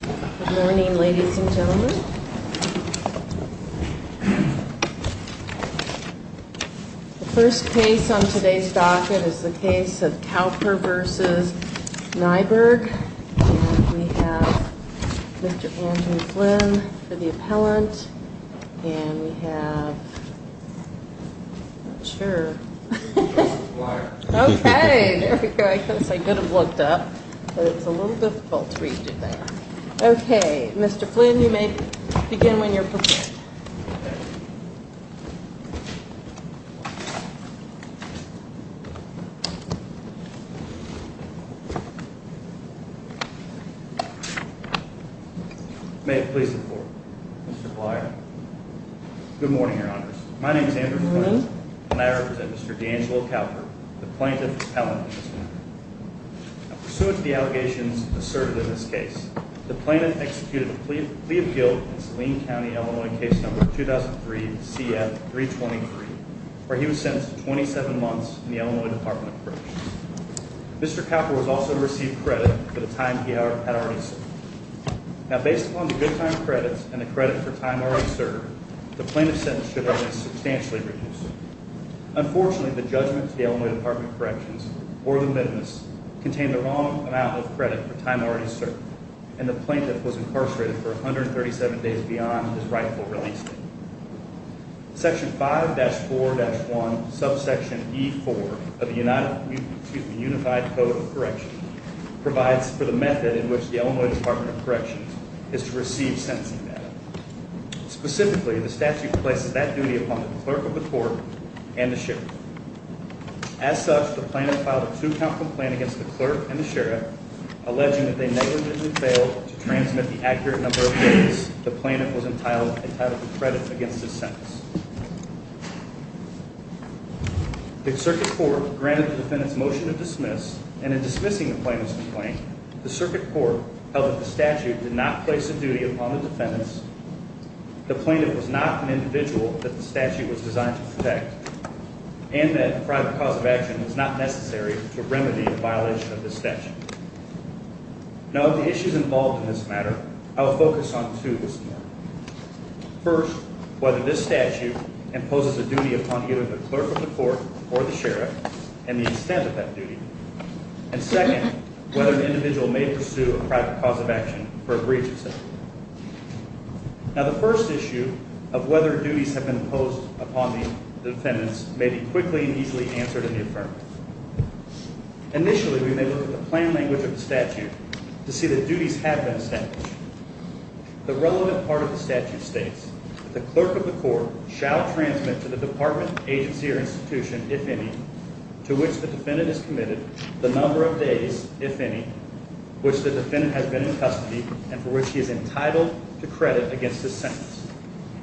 Good morning, ladies and gentlemen. The first case on today's docket is the case of Kauper v. Nyberg. And we have Mr. Andrew Flynn for the appellant. And we have... I'm not sure. Okay, there we go. I guess I could have looked up, but it was a little difficult to read it there. Okay, Mr. Flynn, you may begin when you're prepared. May it please the Court, Mr. Plyer. Good morning, Your Honors. My name is Andrew Flynn, and I represent Mr. D'Angelo Kauper, the plaintiff's appellant. Now, pursuant to the allegations asserted in this case, the plaintiff executed a plea of guilt in Saline County, Illinois, case number 2003-CF-323, where he was sentenced to 27 months in the Illinois Department of Corrections. Mr. Kauper was also to receive credit for the time he had already served. Now, based upon the good time credits and the credit for time already served, the plaintiff's sentence should have been substantially reduced. Unfortunately, the judgment to the Illinois Department of Corrections, or the witness, contained the wrong amount of credit for time already served, and the plaintiff was incarcerated for 137 days beyond his rightful release date. Section 5-4-1, subsection E-4 of the Unified Code of Corrections provides for the method in which the Illinois Department of Corrections is to receive sentencing data. Specifically, the statute places that duty upon the clerk of the court and the sheriff. As such, the plaintiff filed a two-count complaint against the clerk and the sheriff, alleging that they negligently failed to transmit the accurate number of days the plaintiff was entitled to credit against his sentence. The circuit court granted the defendant's motion to dismiss, and in dismissing the plaintiff's complaint, the circuit court held that the statute did not place a duty upon the defendants, the plaintiff was not an individual that the statute was designed to protect, and that a private cause of action was not necessary to remedy the violation of this statute. Now, of the issues involved in this matter, I will focus on two this morning. First, whether this statute imposes a duty upon either the clerk of the court or the sheriff, and the extent of that duty. And second, whether the individual may pursue a private cause of action for a breach of sentence. Now, the first issue of whether duties have been imposed upon the defendants may be quickly and easily answered in the affirmative. Initially, we may look at the plain language of the statute to see that duties have been established. The relevant part of the statute states that the clerk of the court shall transmit to the department, agency, or institution, if any, to which the defendant is committed, the number of days, if any, which the defendant has been in custody and for which he is entitled to credit against this sentence,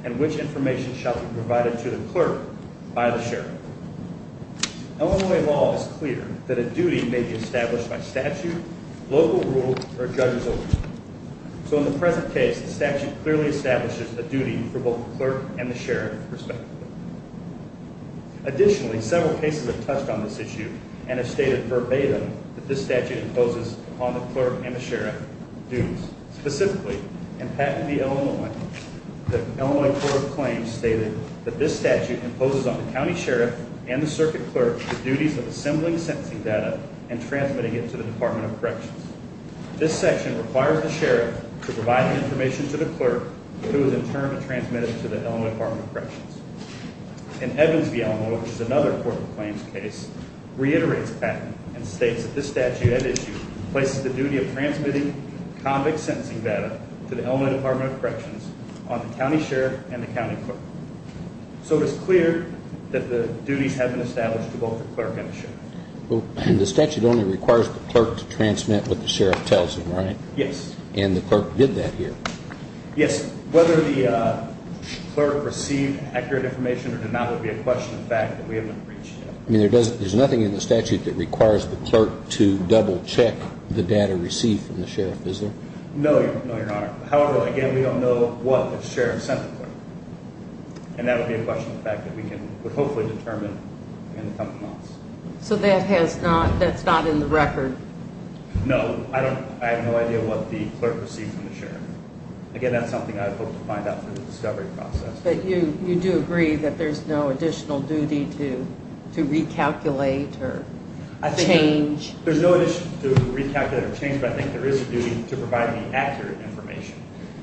and which information shall be provided to the clerk by the sheriff. Illinois law is clear that a duty may be established by statute, local rule, or a judge's order. So in the present case, the statute clearly establishes a duty for both the clerk and the sheriff, respectively. Additionally, several cases have touched on this issue and have stated verbatim that this statute imposes upon the clerk and the sheriff duties. Specifically, in Patent v. Illinois, the Illinois Court of Claims stated that this statute imposes on the county sheriff and the circuit clerk the duties of assembling sentencing data and transmitting it to the Department of Corrections. This section requires the sheriff to provide the information to the clerk who is in turn to transmit it to the Illinois Department of Corrections. In Evans v. Illinois, which is another court of claims case, reiterates Patent and states that this statute at issue places the duty of transmitting convict sentencing data to the Illinois Department of Corrections on the county sheriff and the county clerk. So it is clear that the duties have been established to both the clerk and the sheriff. The statute only requires the clerk to transmit what the sheriff tells him, right? Yes. And the clerk did that here? Yes. Whether the clerk received accurate information or did not would be a question of fact that we haven't reached yet. I mean, there's nothing in the statute that requires the clerk to double-check the data received from the sheriff, is there? No, Your Honor. However, again, we don't know what the sheriff sent the clerk. And that would be a question of fact that we can hopefully determine in the coming months. So that has not, that's not in the record? No. I have no idea what the clerk received from the sheriff. Again, that's something I hope to find out through the discovery process. But you do agree that there's no additional duty to recalculate or change? There's no additional duty to recalculate or change, but I think there is a duty to provide any accurate information.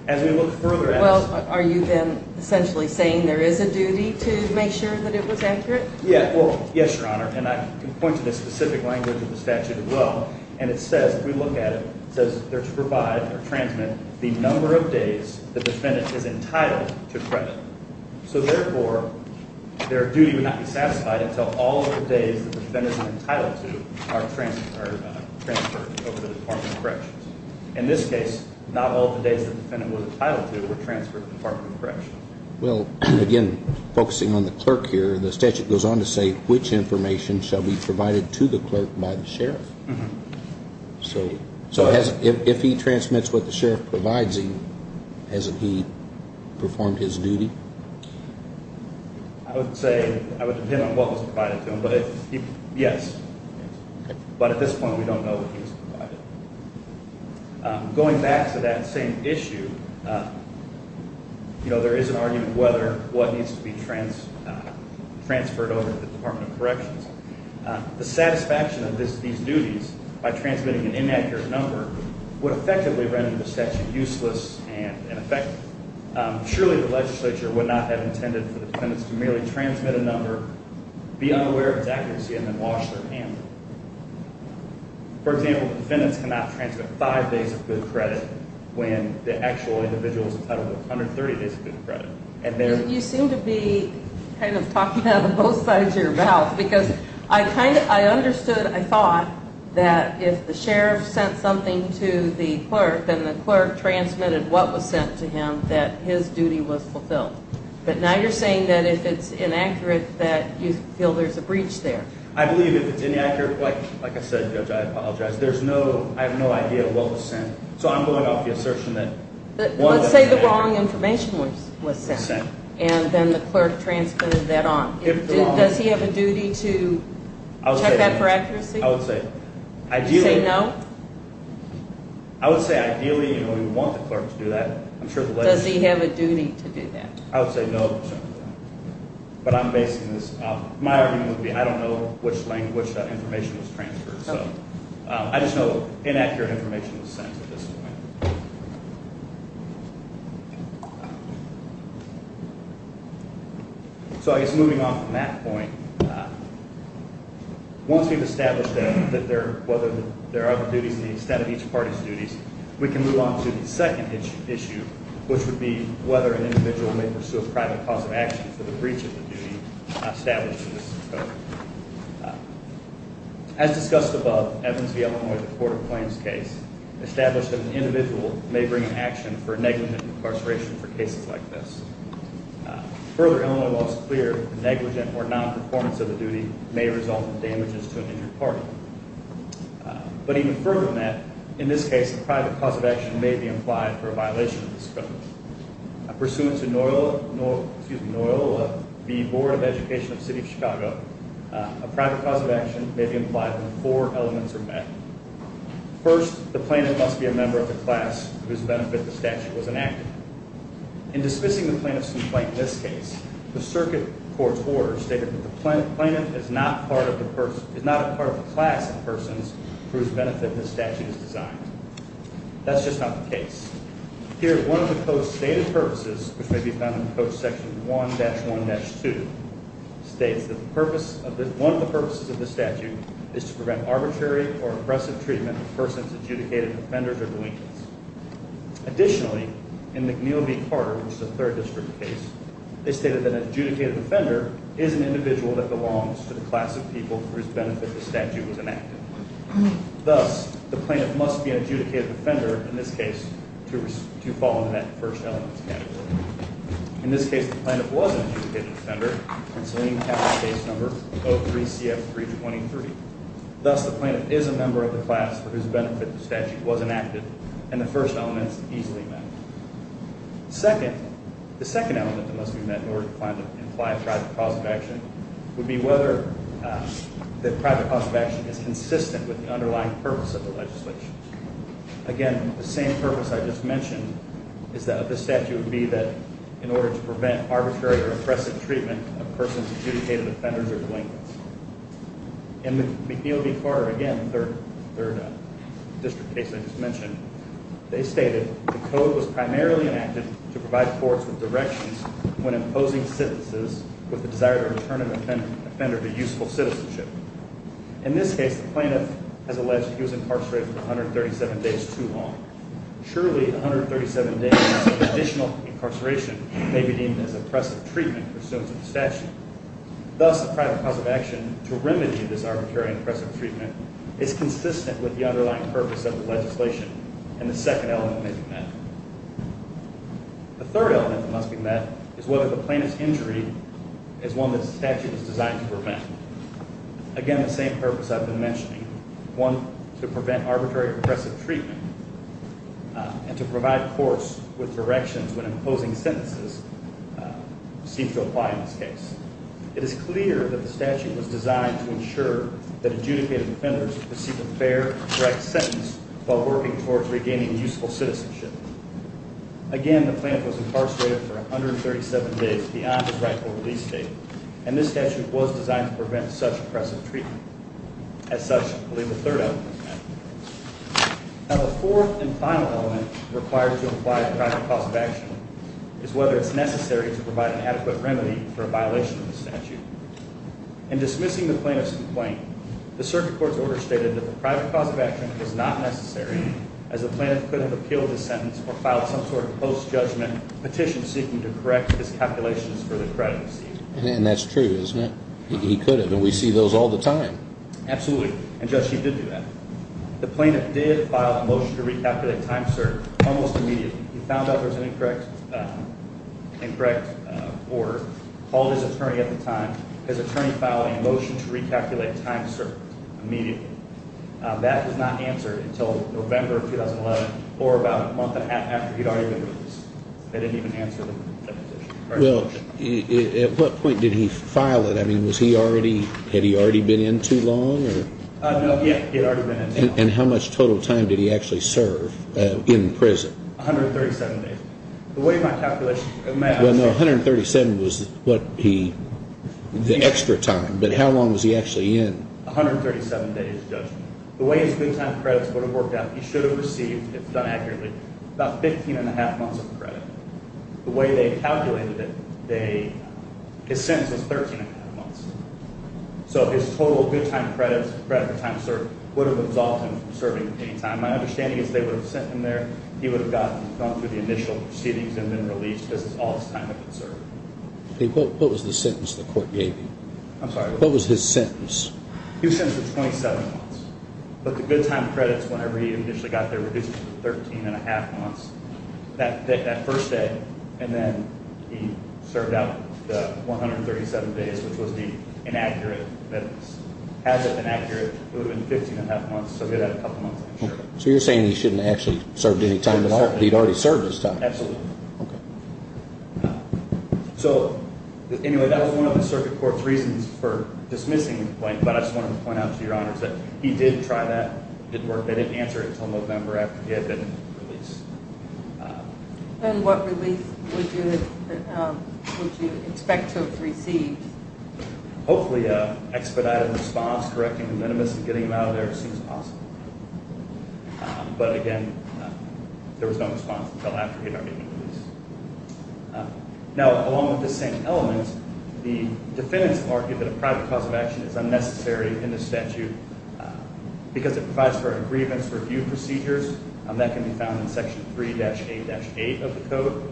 As we look further at this… Well, are you then essentially saying there is a duty to make sure that it was accurate? Yes, Your Honor. And I can point to the specific language of the statute as well. And it says, if we look at it, it says there to provide or transmit the number of days the defendant is entitled to credit. So therefore, their duty would not be satisfied until all of the days the defendant is entitled to are transferred over to the Department of Corrections. In this case, not all of the days the defendant was entitled to were transferred to the Department of Corrections. Well, again, focusing on the clerk here, the statute goes on to say which information shall be provided to the clerk by the sheriff. So if he transmits what the sheriff provides him, hasn't he performed his duty? I would say, I would depend on what was provided to him, but yes. But at this point, we don't know what he's provided. Going back to that same issue, you know, there is an argument whether what needs to be transferred over to the Department of Corrections. The satisfaction of these duties by transmitting an inaccurate number would effectively render the statute useless and ineffective. Surely the legislature would not have intended for the defendants to merely transmit a number, be unaware of its accuracy, and then wash their hands. For example, defendants cannot transmit five days of good credit when the actual individual is entitled to 130 days of good credit. You seem to be kind of talking out of both sides of your mouth, because I understood, I thought, that if the sheriff sent something to the clerk and the clerk transmitted what was sent to him, that his duty was fulfilled. But now you're saying that if it's inaccurate, that you feel there's a breach there. I believe if it's inaccurate, like I said, Judge, I apologize, but there's no, I have no idea what was sent. So I'm going off the assertion that one was sent. Let's say the wrong information was sent, and then the clerk transmitted that on. Does he have a duty to check that for accuracy? I would say ideally. Would you say no? I would say ideally we would want the clerk to do that. Does he have a duty to do that? I would say no. But I'm basing this off, my argument would be I don't know which information was transferred. So I just know inaccurate information was sent at this point. So I guess moving on from that point, once we've established that there are other duties, the extent of each party's duties, we can move on to the second issue, which would be whether an individual may pursue a private cause of action for the breach of the duty established in this code. As discussed above, Evans v. Illinois, the Court of Claims case, established that an individual may bring an action for negligent incarceration for cases like this. Further, Illinois laws clear that negligent or non-performance of the duty may result in damages to an injured party. But even further than that, in this case, a private cause of action may be implied for a violation of this code. Pursuant to Noyle v. Board of Education of the City of Chicago, a private cause of action may be implied when four elements are met. First, the plaintiff must be a member of the class whose benefit the statute was enacted. In dismissing the plaintiff's complaint in this case, the circuit court's order stated that the plaintiff is not a part of the class of persons for whose benefit this statute is designed. That's just not the case. Here, one of the code's stated purposes, which may be found in Code Section 1-1-2, states that one of the purposes of this statute is to prevent arbitrary or oppressive treatment of persons adjudicated offenders or delinquents. Additionally, in McNeil v. Carter, which is a Third District case, they stated that an adjudicated offender is an individual that belongs to the class of people for whose benefit the statute was enacted. Thus, the plaintiff must be an adjudicated offender in this case to fall into that first elements category. In this case, the plaintiff was an adjudicated offender, and so we have the case number 03-CF-323. Thus, the plaintiff is a member of the class for whose benefit the statute was enacted, and the first elements easily met. Second, the second element that must be met in order to find the implied private cause of action would be whether the private cause of action is consistent with the underlying purpose of the legislation. Again, the same purpose I just mentioned is that the statute would be that in order to prevent arbitrary or oppressive treatment of persons adjudicated offenders or delinquents. In McNeil v. Carter, again, the Third District case I just mentioned, they stated the code was primarily enacted to provide courts with directions when imposing sentences with the desire to return an offender to useful citizenship. In this case, the plaintiff has alleged he was incarcerated for 137 days too long. Surely, 137 days of additional incarceration may be deemed as oppressive treatment for students of the statute. Thus, the private cause of action to remedy this arbitrary and oppressive treatment is consistent with the underlying purpose of the legislation, and the second element may be met. The third element that must be met is whether the plaintiff's injury is one that the statute is designed to prevent. Again, the same purpose I've been mentioning, one to prevent arbitrary and oppressive treatment and to provide courts with directions when imposing sentences seems to apply in this case. It is clear that the statute was designed to ensure that adjudicated offenders receive a fair and correct sentence while working towards regaining useful citizenship. Again, the plaintiff was incarcerated for 137 days beyond his rightful release date, and this statute was designed to prevent such oppressive treatment. As such, I believe the third element was met. Now, the fourth and final element required to imply a private cause of action is whether it's necessary to provide an adequate remedy for a violation of the statute. In dismissing the plaintiff's complaint, the circuit court's order stated that the private cause of action was not necessary as the plaintiff could have appealed the sentence or filed some sort of post-judgment petition seeking to correct his calculations for the credit receipt. And that's true, isn't it? He could have, and we see those all the time. Absolutely, and, Judge, he did do that. The plaintiff did file a motion to recalculate time served almost immediately. He found out there was an incorrect order, called his attorney at the time, his attorney filed a motion to recalculate time served immediately. That was not answered until November of 2011 or about a month after he'd already been released. They didn't even answer the petition. Well, at what point did he file it? I mean, was he already, had he already been in too long? No, he had already been in. And how much total time did he actually serve in prison? 137 days. Well, no, 137 was what he, the extra time, but how long was he actually in? 137 days, Judge. The way his good time credits would have worked out, he should have received, if done accurately, about 15 1⁄2 months of credit. The way they calculated it, his sentence was 13 1⁄2 months. So his total good time credits, credit for time served, would have absolved him from serving any time. My understanding is if they would have sent him there, he would have gone through the initial proceedings and been released, because that's all his time had been served. What was the sentence the court gave you? I'm sorry? What was his sentence? He was sentenced to 27 months. But the good time credits, whenever he initially got there, reduced it to 13 1⁄2 months. That first day, and then he served out the 137 days, which was the inaccurate minutes. Had that been accurate, it would have been 15 1⁄2 months, so he would have had a couple months. So you're saying he shouldn't have actually served any time at all? He'd already served his time. Absolutely. Okay. So, anyway, that was one of the circuit court's reasons for dismissing the complaint, but I just wanted to point out to Your Honors that he did try that. It didn't work. They didn't answer it until November after he had been released. And what release would you expect to have received? Hopefully an expedited response, correcting the minimus and getting him out of there as soon as possible. But, again, there was no response until after he had already been released. Now, along with the same elements, the defendants argued that a private cause of action is unnecessary in this statute because it provides for a grievance review procedure, and that can be found in Section 3-A-8 of the code.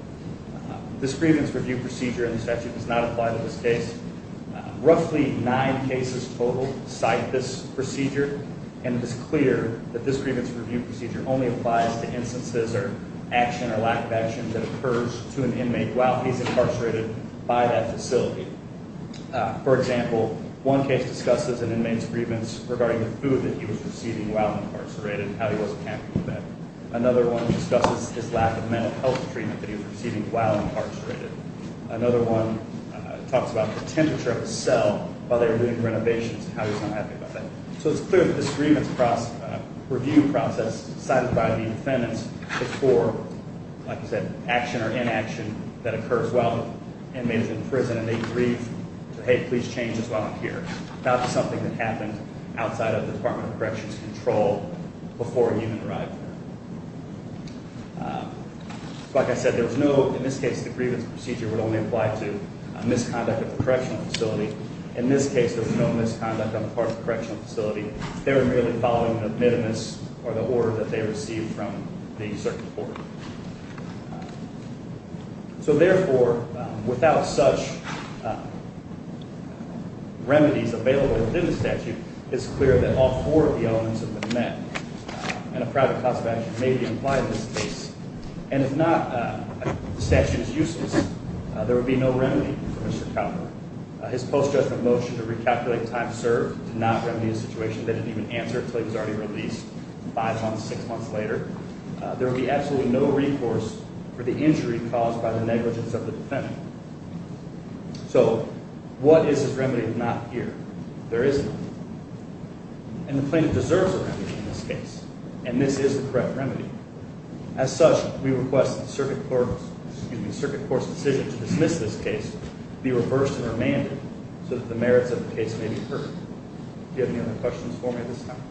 This grievance review procedure in the statute does not apply to this case. Roughly nine cases total cite this procedure, and it is clear that this grievance review procedure only applies to instances or action or lack of action that occurs to an inmate while he's incarcerated by that facility. For example, one case discusses an inmate's grievance regarding the food that he was receiving while incarcerated and how he wasn't happy with that. Another one discusses his lack of mental health treatment that he was receiving while incarcerated. Another one talks about the temperature of his cell while they were doing renovations and how he was not happy about that. So it's clear that this grievance review process cited by the defendants is for, like I said, action or inaction that occurs while an inmate is in prison and they agree to, hey, please change this while I'm here. Not something that happened outside of the Department of Corrections' control before he even arrived there. Like I said, there was no—in this case, the grievance procedure would only apply to misconduct at the correctional facility. In this case, there was no misconduct on the part of the correctional facility. They were merely following an admittance or the order that they received from the circuit court. So therefore, without such remedies available within the statute, it's clear that all four of the elements of the net and a private class of action may be implied in this case. And if not, the statute is useless. There would be no remedy for Mr. Cowper. His post-judgment motion to recalculate time served did not remedy the situation. They didn't even answer until he was already released five months, six months later. There would be absolutely no recourse for the injury caused by the negligence of the defendant. So what is this remedy if not here? There is none. And the plaintiff deserves a remedy in this case, and this is the correct remedy. As such, we request that the circuit court's decision to dismiss this case be reversed and remanded so that the merits of the case may be heard. Do you have any other questions for me at this time?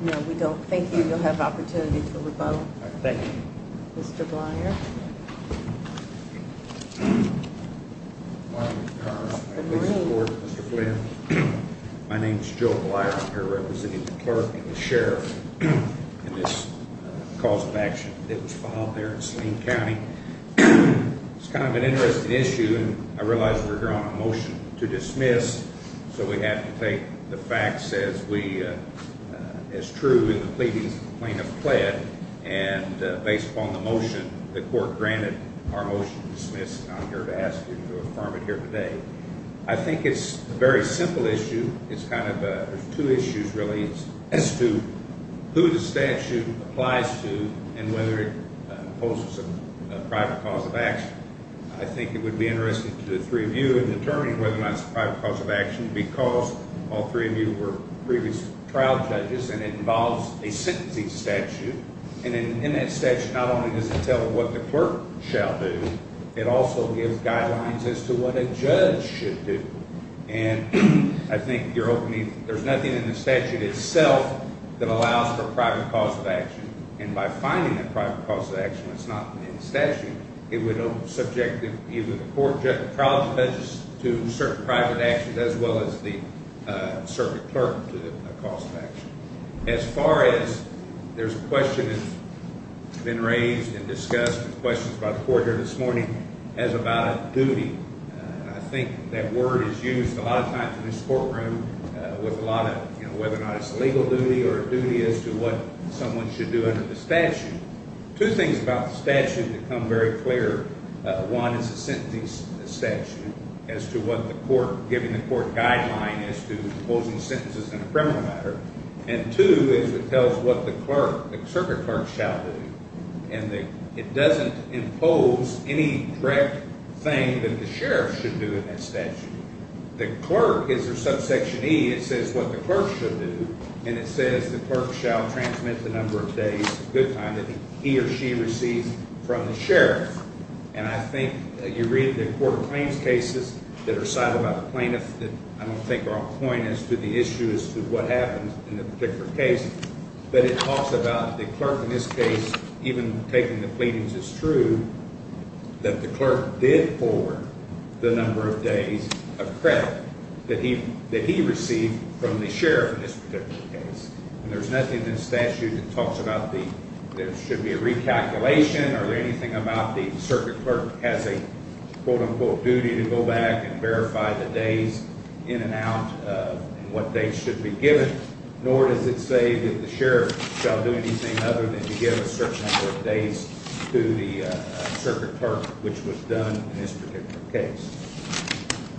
No, we don't. Thank you. You'll have opportunity for rebuttal. Thank you. Mr. Blyer. Good morning. Good morning. My name is Joe Blyer. I'm here representing the clerk and the sheriff in this cause of action that was filed there in Selene County. So we have to take the facts as true in the pleadings that the plaintiff pled, and based upon the motion the court granted, our motion is dismissed, and I'm here to ask you to affirm it here today. I think it's a very simple issue. It's kind of two issues, really, as to who the statute applies to and whether it imposes a private cause of action. I think it would be interesting to the three of you in determining whether or not it's a private cause of action because all three of you were previous trial judges, and it involves a sentencing statute, and in that statute not only does it tell what the clerk shall do, it also gives guidelines as to what a judge should do. And I think you're opening, there's nothing in the statute itself that allows for a private cause of action, and by finding a private cause of action that's not in the statute, it would subject either the court trial judges to certain private actions as well as the circuit clerk to a cause of action. As far as there's a question that's been raised and discussed, there's questions by the court here this morning, as about duty. I think that word is used a lot of times in this courtroom with a lot of, you know, it's a legal duty or a duty as to what someone should do under the statute. Two things about the statute become very clear. One is the sentencing statute as to what the court, giving the court guidelines as to imposing sentences in a criminal matter, and two is it tells what the clerk, the circuit clerk shall do, and it doesn't impose any direct thing that the sheriff should do in that statute. The clerk is a subsection E. It says what the clerk should do, and it says the clerk shall transmit the number of days, a good time that he or she receives from the sheriff. And I think you read the court claims cases that are cited by the plaintiff that I don't think are on point as to the issue as to what happens in the particular case, but it talks about the clerk in this case even taking the pleadings as true, that the clerk did forward the number of days of credit that he received from the sheriff in this particular case. And there's nothing in the statute that talks about there should be a recalculation or anything about the circuit clerk has a, quote, unquote, duty to go back and verify the days in and out and what days should be given, nor does it say that the sheriff shall do anything other than to give a certain number of days to the circuit clerk, which was done in this particular case.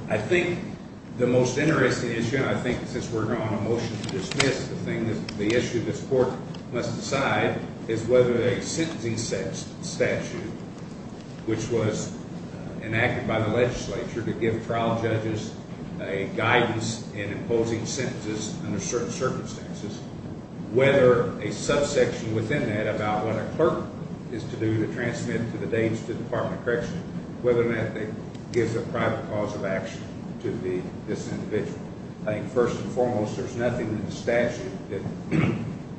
I think the most interesting issue, and I think since we're going on a motion to dismiss, the issue this court must decide is whether a sentencing statute, which was enacted by the legislature to give trial judges a guidance in imposing sentences under certain circumstances, whether a subsection within that about what a clerk is to do to transmit to the days to the Department of Corrections, whether or not it gives a private cause of action to this individual. I think first and foremost there's nothing in the statute that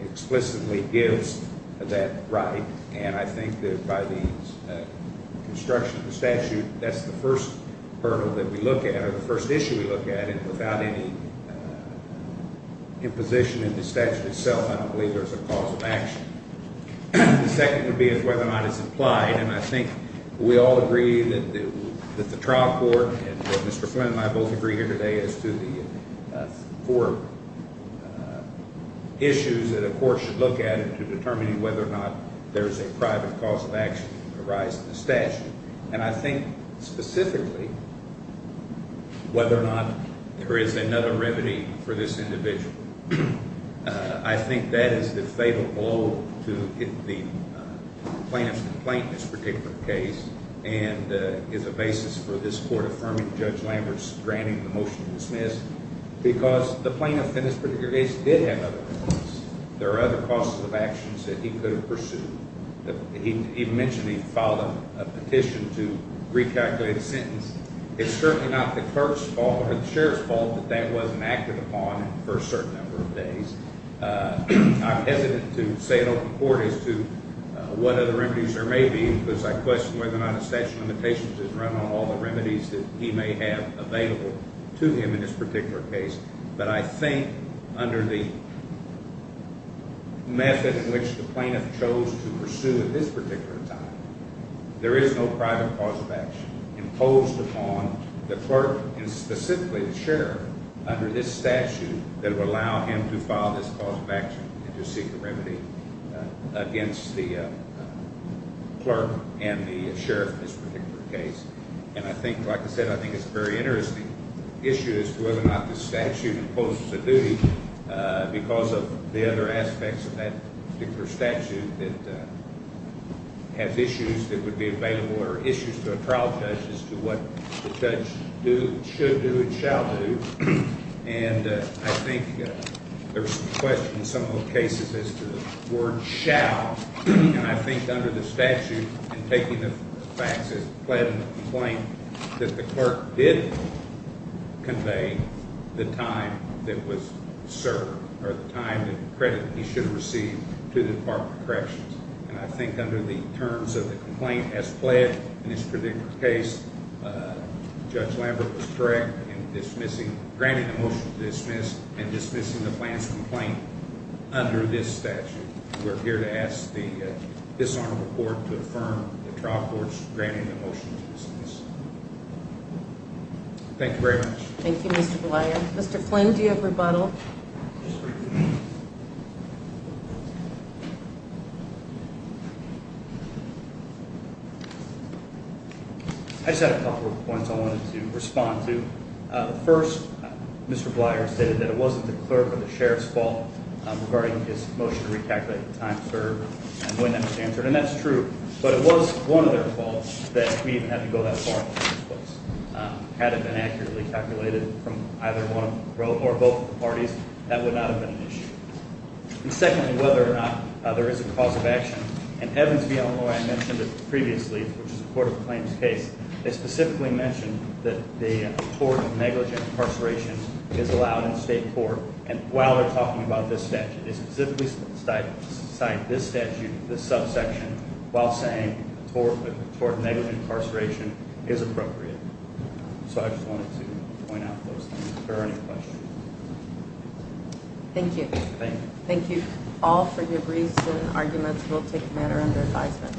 explicitly gives that right, and I think that by the construction of the statute, that's the first hurdle that we look at or the first issue we look at, and without any imposition in the statute itself, I don't believe there's a cause of action. The second would be whether or not it's implied, and I think we all agree that the trial court and Mr. Flynn and I both agree here today as to the four issues that a court should look at in determining whether or not there's a private cause of action arising in the statute. And I think specifically whether or not there is another remedy for this individual. I think that is the fatal blow to the plaintiff's complaint in this particular case and is a basis for this court affirming Judge Lambert's granting the motion to dismiss because the plaintiff in this particular case did have other causes. There are other causes of actions that he could have pursued. He mentioned he filed a petition to recalculate a sentence. It's certainly not the clerk's fault or the sheriff's fault that that wasn't acted upon for a certain number of days. I'm hesitant to say it over the court as to what other remedies there may be because I question whether or not a statute of limitations is run on all the remedies that he may have available to him in this particular case. But I think under the method in which the plaintiff chose to pursue at this particular time, there is no private cause of action imposed upon the clerk and specifically the sheriff under this statute that would allow him to file this cause of action and to seek a remedy against the clerk and the sheriff in this particular case. And I think, like I said, I think it's a very interesting issue as to whether or not the statute imposes a duty because of the other aspects of that particular statute that have issues that would be available or issues to a trial judge as to what the judge should do and shall do. And I think there's a question in some of the cases as to the word shall. And I think under the statute and taking the facts as it pled in the complaint that the clerk did convey the time that was served or the time that he should have received to the Department of Corrections. And I think under the terms of the complaint as pled in this particular case, Judge Lambert was correct in dismissing, granting the motion to dismiss and dismissing the plaintiff's complaint under this statute. We're here to ask this honorable court to affirm the trial court's granting the motion to dismiss. Thank you very much. Thank you, Mr. Bleier. Mr. Flynn, do you have rebuttal? I just had a couple of points I wanted to respond to. First, Mr. Bleier stated that it wasn't the clerk or the sheriff's fault regarding his motion to recalculate the time served and when that was answered. And that's true. But it was one of their faults that we even had to go that far in the first place. Had it been accurately calculated from either one or both of the parties, that would not have been an issue. And secondly, whether or not there is a cause of action, and Evans v. Illinois mentioned it previously, which is a court of claims case. They specifically mentioned that the court of negligent incarceration is allowed in state court. And while they're talking about this statute, they specifically cite this statute, this subsection, while saying toward negligent incarceration is appropriate. So I just wanted to point out those things. Are there any questions? Thank you. Thank you all for your briefs and arguments. We'll take a matter under advisement.